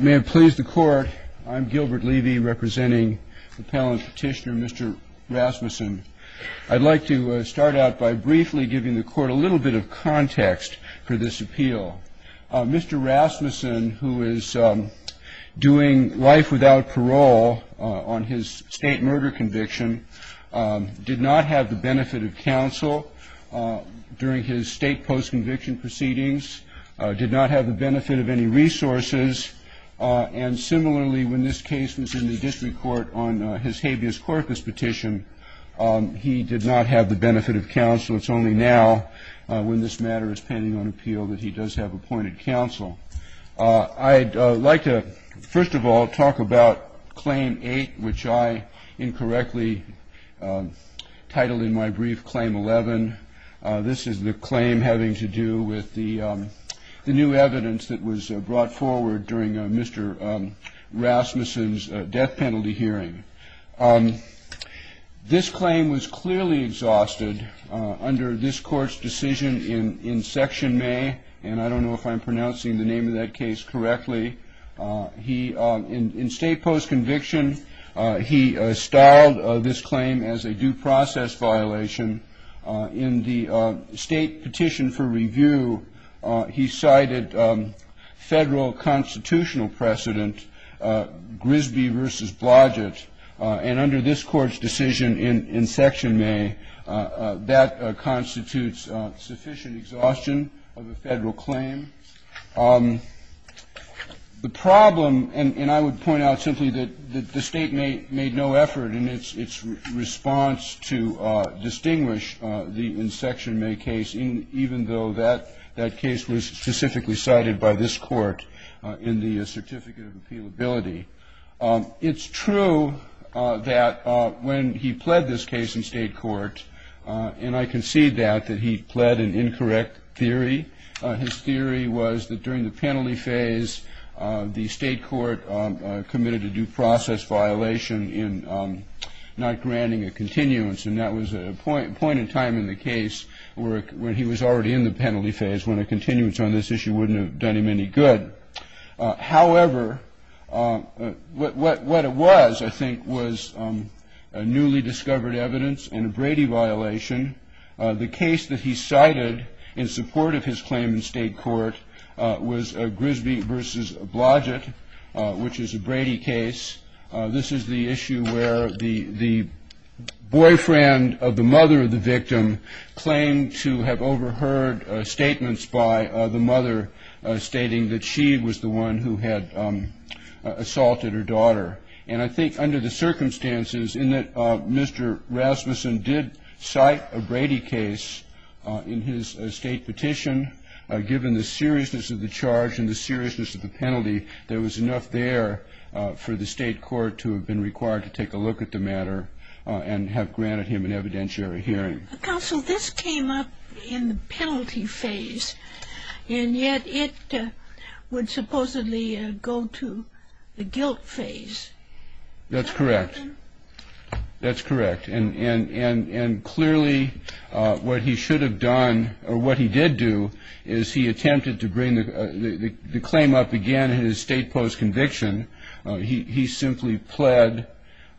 May it please the Court, I'm Gilbert Levy representing the Appellant Petitioner Mr. Rasmussen. I'd like to start out by briefly giving the Court a little bit of context for this appeal. Mr. Rasmussen, who is doing life without parole on his state murder conviction, did not have the benefit of counsel during his state post-conviction proceedings, did not have the benefit of any resources, and similarly when this case was in the district court on his habeas corpus petition, he did not have the benefit of counsel. It's only now when this matter is pending on appeal that he does have appointed counsel. I'd like to, first of all, talk about Claim 8, which I incorrectly titled in my brief Claim 11. This is the claim having to do with the new evidence that was brought forward during Mr. Rasmussen's death penalty hearing. This claim was clearly exhausted under this Court's decision in Section May, and I don't know if I'm pronouncing the name of that case correctly. In state post-conviction, he styled this claim as a due process violation. In the state petition for review, he cited Federal constitutional precedent, Grisby v. Blodgett, and under this Court's decision in Section May, that constitutes sufficient exhaustion of a Federal claim. The problem, and I would point out simply that the State made no effort in its response to distinguish the in Section May case, even though that case was specifically cited by this Court in the Certificate of Appealability. It's true that when he pled this case in state court, and I concede that, that he pled an incorrect theory. His theory was that during the penalty phase, the state court committed a due process violation in not granting a continuance, and that was a point in time in the case where he was already in the penalty phase, when a continuance on this issue wouldn't have done him any good. However, what it was, I think, was newly discovered evidence and a Brady violation. The case that he cited in support of his claim in state court was Grisby v. Blodgett, which is a Brady case. This is the issue where the boyfriend of the mother of the victim claimed to have overheard statements by the mother, stating that she was the one who had assaulted her daughter. And I think under the circumstances in that Mr. Rasmussen did cite a Brady case in his state petition, given the seriousness of the charge and the seriousness of the penalty, there was enough there for the state court to have been required to take a look at the matter and have granted him an evidentiary hearing. Counsel, this came up in the penalty phase, and yet it would supposedly go to the guilt phase. That's correct. That's correct. And clearly what he should have done or what he did do is he attempted to bring the claim up again in his state post conviction. He simply pled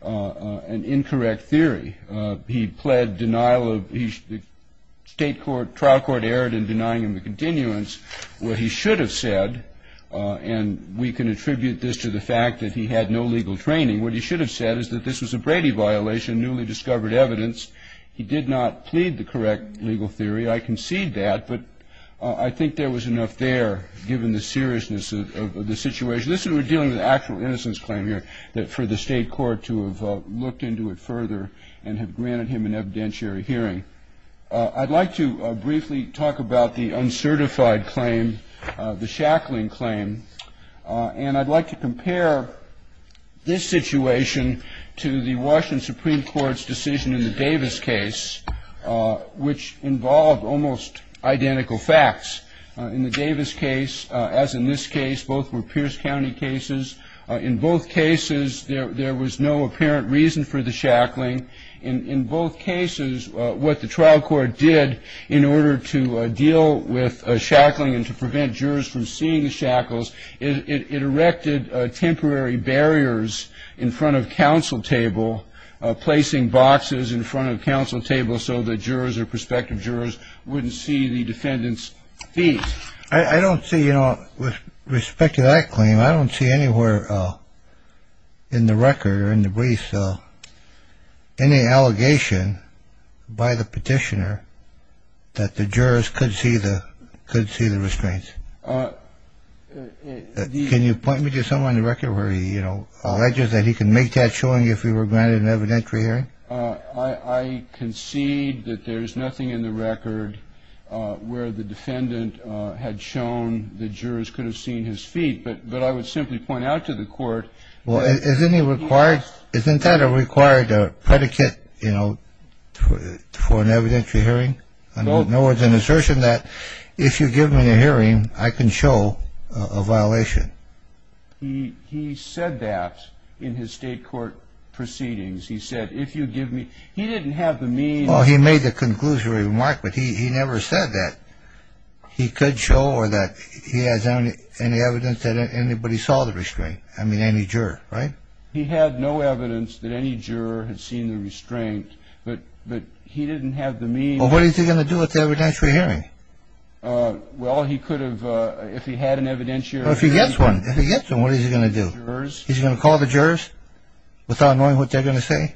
an incorrect theory. He pled denial of state court, trial court error in denying him a continuance. What he should have said, and we can attribute this to the fact that he had no legal training, what he should have said is that this was a Brady violation, newly discovered evidence. He did not plead the correct legal theory. I concede that, but I think there was enough there, given the seriousness of the situation. We're dealing with an actual innocence claim here for the state court to have looked into it further and have granted him an evidentiary hearing. I'd like to briefly talk about the uncertified claim, the shackling claim, and I'd like to compare this situation to the Washington Supreme Court's decision in the Davis case, which involved almost identical facts. In the Davis case, as in this case, both were Pierce County cases. In both cases, there was no apparent reason for the shackling. In both cases, what the trial court did in order to deal with shackling and to prevent jurors from seeing the shackles, it erected temporary barriers in front of counsel table, placing boxes in front of counsel table so that jurors or prospective jurors wouldn't see the defendant's fees. I don't see, you know, with respect to that claim, I don't see anywhere in the record or in the briefs any allegation by the petitioner that the jurors could see the restraints. Can you point me to someone in the record where he, you know, alleges that he can make that showing if he were granted an evidentiary hearing? I concede that there is nothing in the record where the defendant had shown the jurors could have seen his fee, but I would simply point out to the court. Well, isn't he required, isn't that a required predicate, you know, for an evidentiary hearing? No, it's an assertion that if you give me the hearing, I can show a violation. He said that in his state court proceedings. He said, if you give me, he didn't have the means. Well, he made the conclusory remark, but he never said that he could show or that he has any evidence that anybody saw the restraint, I mean, any juror, right? He had no evidence that any juror had seen the restraint, but he didn't have the means. Well, what is he going to do with the evidentiary hearing? Well, he could have, if he had an evidentiary hearing. Well, if he gets one, if he gets one, what is he going to do? He's going to call the jurors without knowing what they're going to say?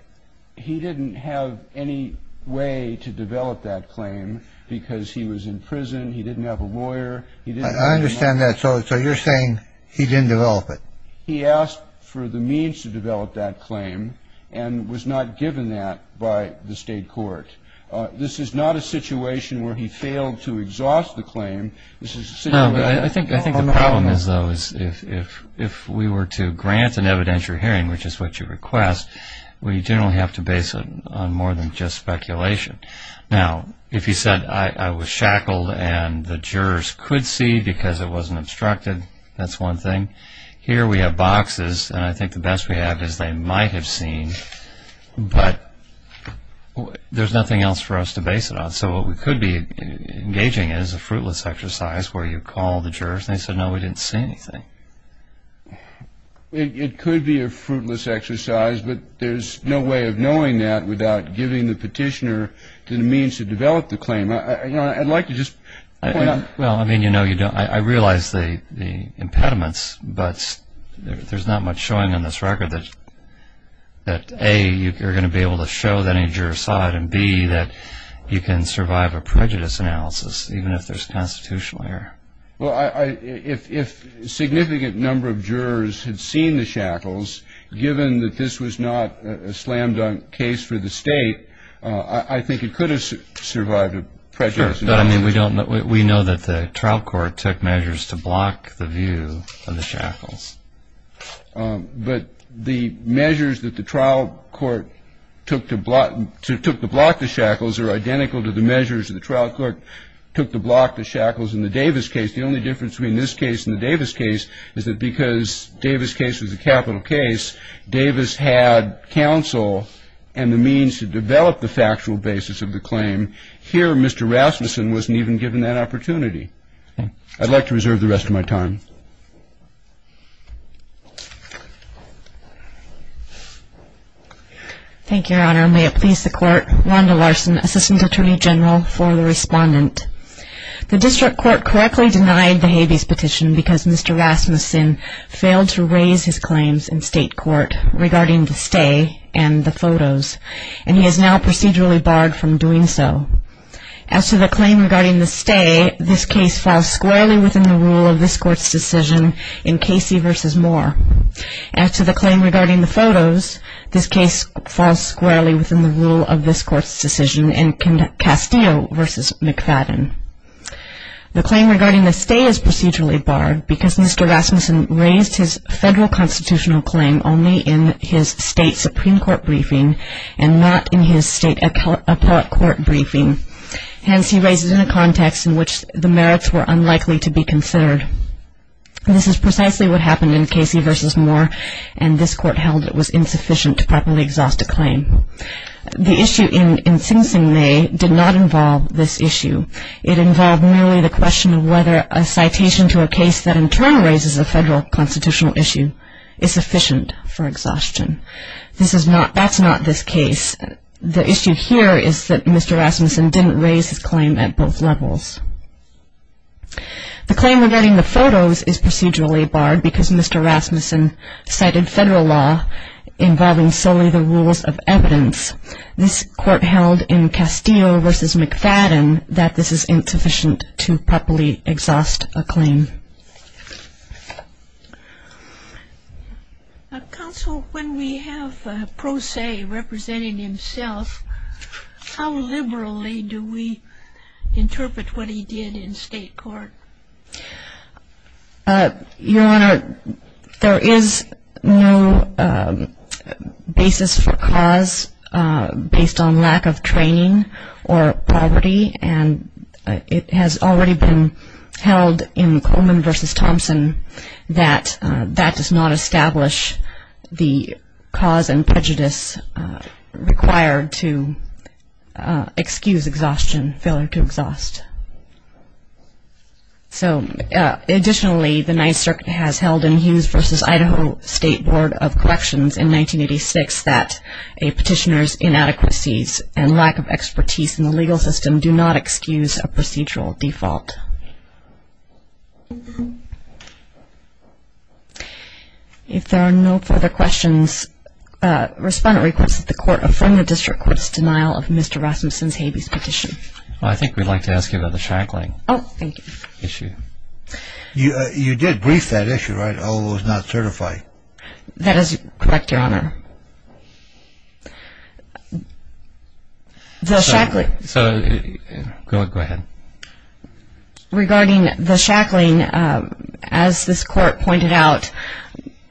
He didn't have any way to develop that claim because he was in prison, he didn't have a lawyer. I understand that. So you're saying he didn't develop it. He asked for the means to develop that claim and was not given that by the state court. This is not a situation where he failed to exhaust the claim. No, but I think the problem is, though, is if we were to grant an evidentiary hearing, which is what you request, we generally have to base it on more than just speculation. Now, if he said, I was shackled and the jurors could see because it wasn't obstructed, that's one thing. Here we have boxes, and I think the best we have is they might have seen, but there's nothing else for us to base it on. So what we could be engaging in is a fruitless exercise where you call the jurors and say, no, we didn't see anything. It could be a fruitless exercise, but there's no way of knowing that without giving the petitioner the means to develop the claim. I'd like to just point out. I realize the impediments, but there's not much showing on this record that, A, you're going to be able to show that any juror saw it and, B, that you can survive a prejudice analysis, even if there's constitutional error. Well, if a significant number of jurors had seen the shackles, given that this was not a slam-dunk case for the state, I think it could have survived a prejudice analysis. We know that the trial court took measures to block the view of the shackles. But the measures that the trial court took to block the shackles are identical to the measures that the trial court took to block the shackles in the Davis case. The only difference between this case and the Davis case is that because Davis' case was a capital case, Davis had counsel and the means to develop the factual basis of the claim. Here, Mr. Rasmussen wasn't even given that opportunity. I'd like to reserve the rest of my time. Thank you, Your Honor. May it please the Court, Wanda Larson, Assistant Attorney General for the Respondent. The district court correctly denied the habeas petition because Mr. Rasmussen failed to raise his claims in state court regarding the stay and the photos, and he is now procedurally barred from doing so. As to the claim regarding the stay, this case falls squarely within the rule of this court's decision in Casey v. Moore. As to the claim regarding the photos, this case falls squarely within the rule of this court's decision in Castillo v. McFadden. The claim regarding the stay is procedurally barred because Mr. Rasmussen raised his federal constitutional claim only in his state Supreme Court briefing and not in his state appellate court briefing. Hence, he raises it in a context in which the merits were unlikely to be considered. This is precisely what happened in Casey v. Moore, and this court held it was insufficient to properly exhaust a claim. The issue in Sing Sing May did not involve this issue. It involved merely the question of whether a citation to a case that in turn raises a federal constitutional issue is sufficient for exhaustion. That's not this case. The issue here is that Mr. Rasmussen didn't raise his claim at both levels. The claim regarding the photos is procedurally barred because Mr. Rasmussen cited federal law involving solely the rules of evidence. This court held in Castillo v. McFadden that this is insufficient to properly exhaust a claim. Counsel, when we have a pro se representing himself, how liberally do we interpret what he did in state court? Your Honor, there is no basis for cause based on lack of training or poverty, and it has already been held in Coleman v. Thompson that that does not establish the cause and prejudice required to excuse exhaustion, failure to exhaust. Additionally, the Ninth Circuit has held in Hughes v. Idaho State Board of Corrections in 1986 that a petitioner's inadequacies and lack of expertise in the legal system do not excuse a procedural default. If there are no further questions, respondent requests that the court affirm the district court's denial of Mr. Rasmussen's habeas petition. I think we'd like to ask you about the shackling issue. You did brief that issue, right? Although it was not certified. That is correct, Your Honor. Go ahead. Regarding the shackling, as this court pointed out,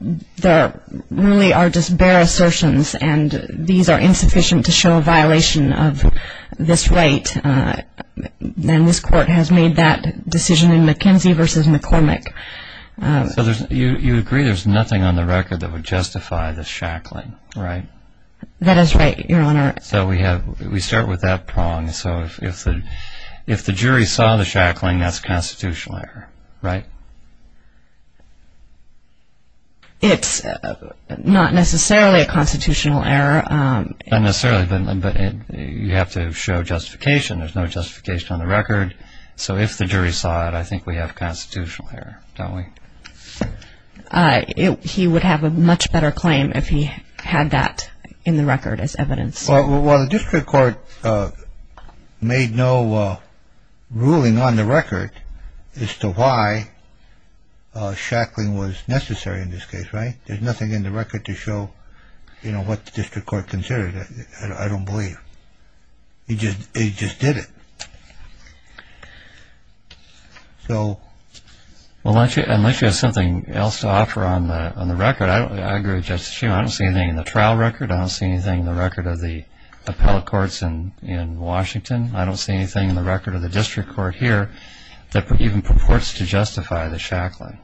there really are just bare assertions, and these are insufficient to show a violation of this right, and this court has made that decision in McKenzie v. McCormick. So you agree there's nothing on the record that would justify the shackling, right? That is right, Your Honor. So we start with that prong. So if the jury saw the shackling, that's a constitutional error, right? It's not necessarily a constitutional error. Not necessarily, but you have to show justification. There's no justification on the record. So if the jury saw it, I think we have a constitutional error, don't we? He would have a much better claim if he had that in the record as evidence. Well, the district court made no ruling on the record as to why shackling was necessary in this case, right? There's nothing in the record to show, you know, what the district court considered. I don't believe. It just did it. So unless you have something else to offer on the record, I agree with Justice Shuman. I don't see anything in the trial record. I don't see anything in the record of the appellate courts in Washington. I don't see anything in the record of the district court here that even purports to justify the shackling.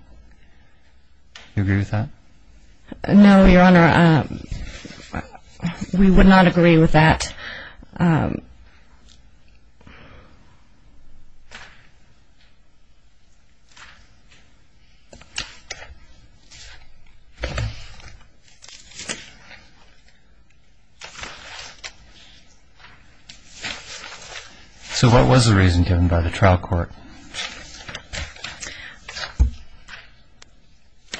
Do you agree with that? No, Your Honor. We would not agree with that. So what was the reason given by the trial court?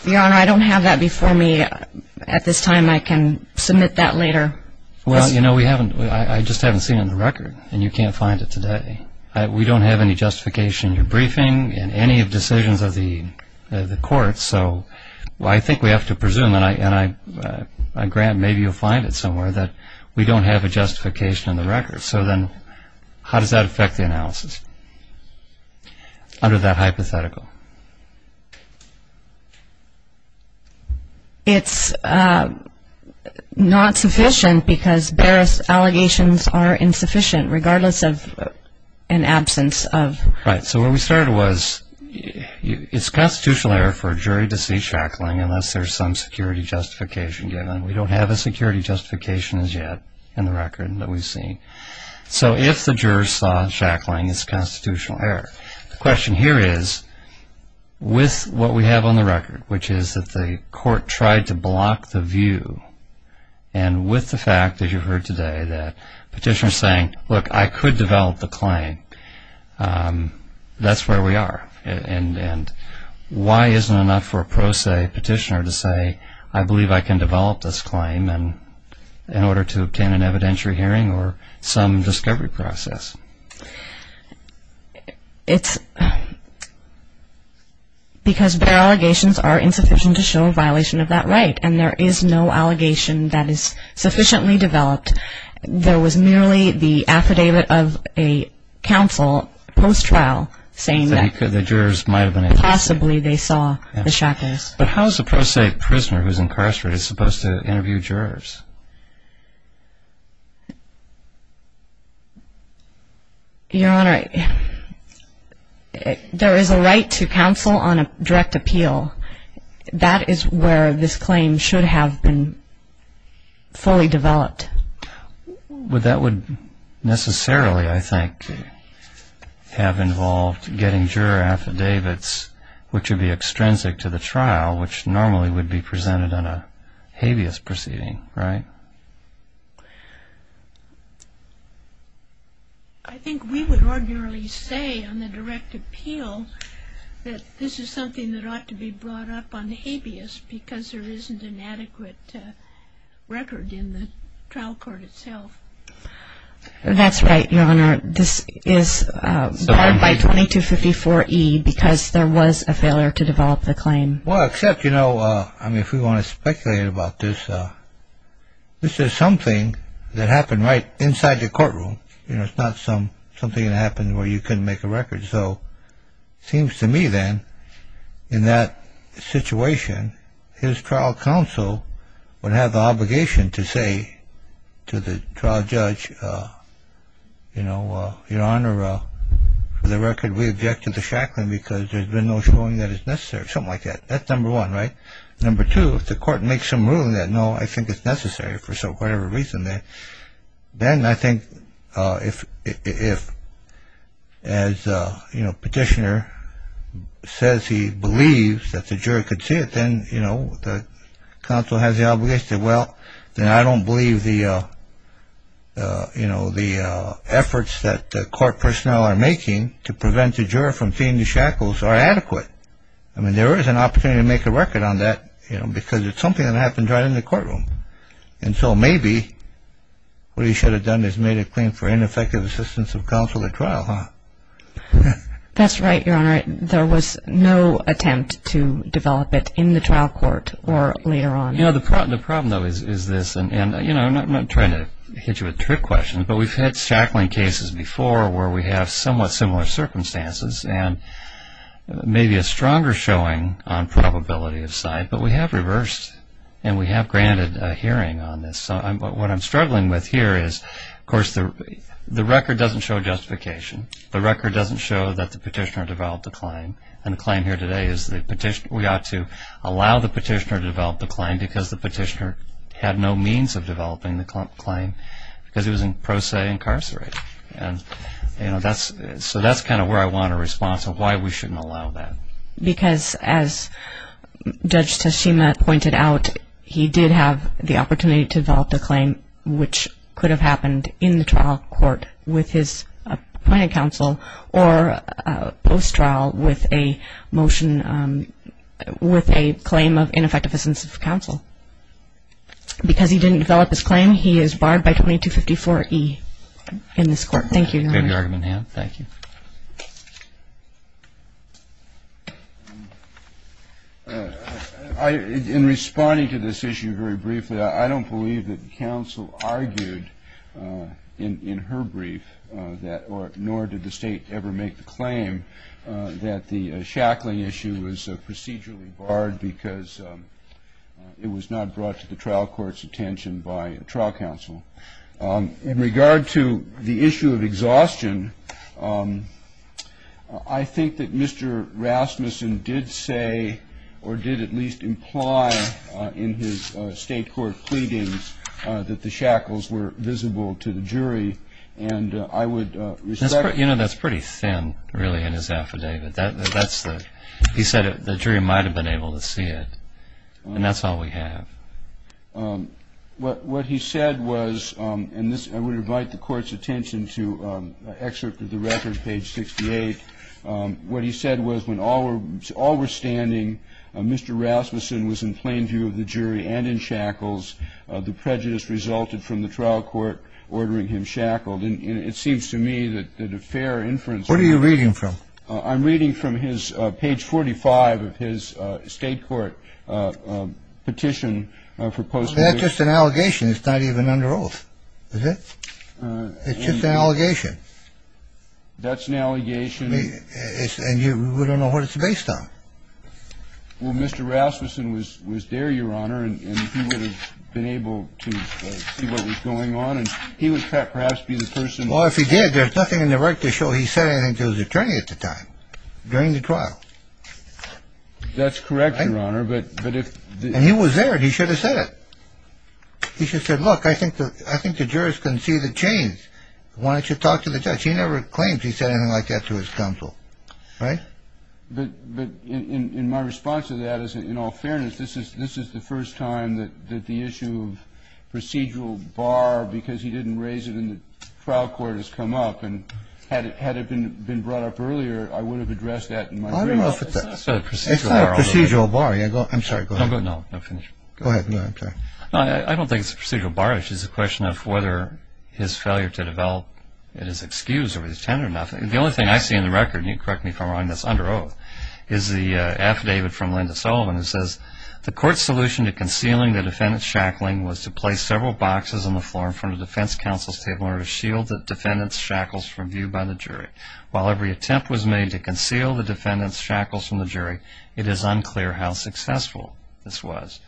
Your Honor, I don't have that before me at this time. I can submit that later. Well, you know, we haven't. We just haven't seen it in the record, and you can't find it today. We don't have any justification in your briefing, in any of the decisions of the courts. So I think we have to presume, and I grant maybe you'll find it somewhere, that we don't have a justification in the record. So then how does that affect the analysis under that hypothetical? It's not sufficient because various allegations are insufficient, regardless of an absence of. Right. So where we started was it's constitutional error for a jury to see shackling unless there's some security justification given. We don't have a security justification as yet in the record that we've seen. So if the jurors saw shackling, it's constitutional error. The question here is, with what we have on the record, which is that the court tried to block the view, and with the fact, as you've heard today, that petitioner's saying, look, I could develop the claim, that's where we are. And why isn't it enough for a pro se petitioner to say, I believe I can develop this claim, in order to obtain an evidentiary hearing or some discovery process? It's because their allegations are insufficient to show a violation of that right, and there is no allegation that is sufficiently developed. There was merely the affidavit of a counsel post-trial saying that possibly they saw the shackles. But how is a pro se prisoner who's incarcerated supposed to interview jurors? Your Honor, there is a right to counsel on a direct appeal. That is where this claim should have been fully developed. But that would necessarily, I think, have involved getting juror affidavits, which would be extrinsic to the trial, which normally would be presented on a habeas proceeding, right? I think we would ordinarily say, on the direct appeal, that this is something that ought to be brought up on habeas, because there isn't an adequate record in the trial court itself. That's right, Your Honor. This is barred by 2254E, because there was a failure to develop the claim. Well, except, you know, I mean, if we want to speculate about this, this is something that happened right inside the courtroom. You know, it's not something that happened where you couldn't make a record. So it seems to me, then, in that situation, his trial counsel would have the obligation to say to the trial judge, you know, Your Honor, for the record, we object to the shackling because there's been no showing that it's necessary, something like that. That's number one, right? Number two, if the court makes some ruling that, no, I think it's necessary for whatever reason, then I think if, as, you know, petitioner says he believes that the juror could see it, then, you know, the counsel has the obligation to say, well, then I don't believe the, you know, the efforts that the court personnel are making to prevent the juror from seeing the shackles are adequate. I mean, there is an opportunity to make a record on that, you know, because it's something that happened right in the courtroom. And so maybe what he should have done is made a claim for ineffective assistance of counsel at trial, huh? That's right, Your Honor. There was no attempt to develop it in the trial court or later on. You know, the problem, though, is this, and, you know, I'm not trying to hit you with trick questions, but we've had shackling cases before where we have somewhat similar circumstances and maybe a stronger showing on probability of side, but we have reversed and we have granted a hearing on this. What I'm struggling with here is, of course, the record doesn't show justification. The record doesn't show that the petitioner developed a claim, and the claim here today is we ought to allow the petitioner to develop the claim because the petitioner had no means of developing the claim because he was in pro se incarcerated. And, you know, so that's kind of where I want a response of why we shouldn't allow that. Because as Judge Tashima pointed out, he did have the opportunity to develop the claim, which could have happened in the trial court with his appointed counsel or post-trial with a motion with a claim of ineffective assistance of counsel. Because he didn't develop his claim, he is barred by 2254E in this court. Thank you, Your Honor. May the argument hand? Thank you. In responding to this issue very briefly, I don't believe that counsel argued in her brief that, nor did the State ever make the claim, that the shackling issue was procedurally barred because it was not brought to the trial court's attention by a trial counsel. In regard to the issue of exhaustion, I think that Mr. Rasmussen did say or did at least imply in his State court pleadings that the shackles were visible to the jury, and I would respect that. You know, that's pretty thin, really, in his affidavit. He said the jury might have been able to see it, and that's all we have. What he said was, and I would invite the Court's attention to excerpt of the record, page 68. What he said was, when all were standing, Mr. Rasmussen was in plain view of the jury and in shackles. The prejudice resulted from the trial court ordering him shackled. And it seems to me that a fair inference. What are you reading from? I'm reading from his page 45 of his State court petition for postmortem. That's just an allegation. It's not even under oath. Is it? It's just an allegation. That's an allegation. And we don't know what it's based on. Well, Mr. Rasmussen was there, Your Honor, and he would have been able to see what was going on, and he would perhaps be the person. Well, if he did, there's nothing in the record to show he said anything to his attorney at the time, during the trial. That's correct, Your Honor. And he was there, and he should have said it. He should have said, look, I think the jurors can see the change. Why don't you talk to the judge? He never claimed he said anything like that to his counsel, right? But in my response to that is, in all fairness, this is the first time that the issue of procedural bar, because he didn't raise it in the trial court, has come up. And had it been brought up earlier, I would have addressed that in my brief. I don't know if it's a procedural bar. It's not a procedural bar. I'm sorry, go ahead. No, finish. Go ahead. No, I'm sorry. I don't think it's a procedural bar. It's just a question of whether his failure to develop an excuse over his tenure or not. The only thing I see in the record, and you can correct me if I'm wrong, that's under oath, is the affidavit from Linda Sullivan that says, the court's solution to concealing the defendant's shackling was to place several boxes on the floor in front of the defense counsel's table in order to shield the defendant's shackles from view by the jury. While every attempt was made to conceal the defendant's shackles from the jury, it is unclear how successful this was.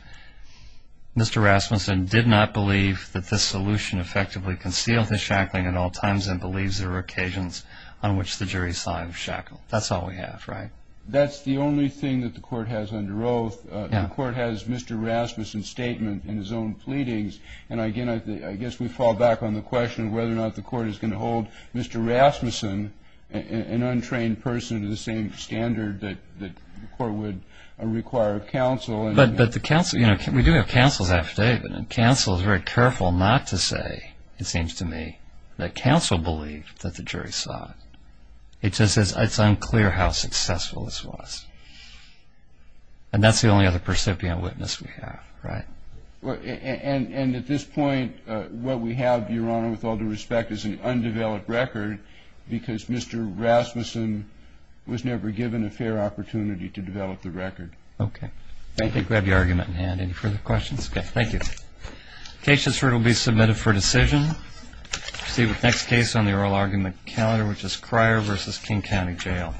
Mr. Rasmussen did not believe that this solution effectively concealed the shackling at all times and believes there were occasions on which the jury saw him shackle. That's all we have, right? That's the only thing that the court has under oath. The court has Mr. Rasmussen's statement in his own pleadings, and, again, I guess we fall back on the question of whether or not the court is going to hold Mr. Rasmussen, an untrained person to the same standard that the court would require of counsel. But the counsel, you know, we do have counsel's affidavit, and counsel is very careful not to say, it seems to me, that counsel believed that the jury saw it. It just says it's unclear how successful this was. And that's the only other percipient witness we have, right? And at this point, what we have, Your Honor, with all due respect, is an undeveloped record because Mr. Rasmussen was never given a fair opportunity to develop the record. Okay. Thank you. Grab your argument in hand. Any further questions? Okay. Thank you. The case has been submitted for decision. Let's see the next case on the oral argument calendar, which is Cryer v. King County Jail.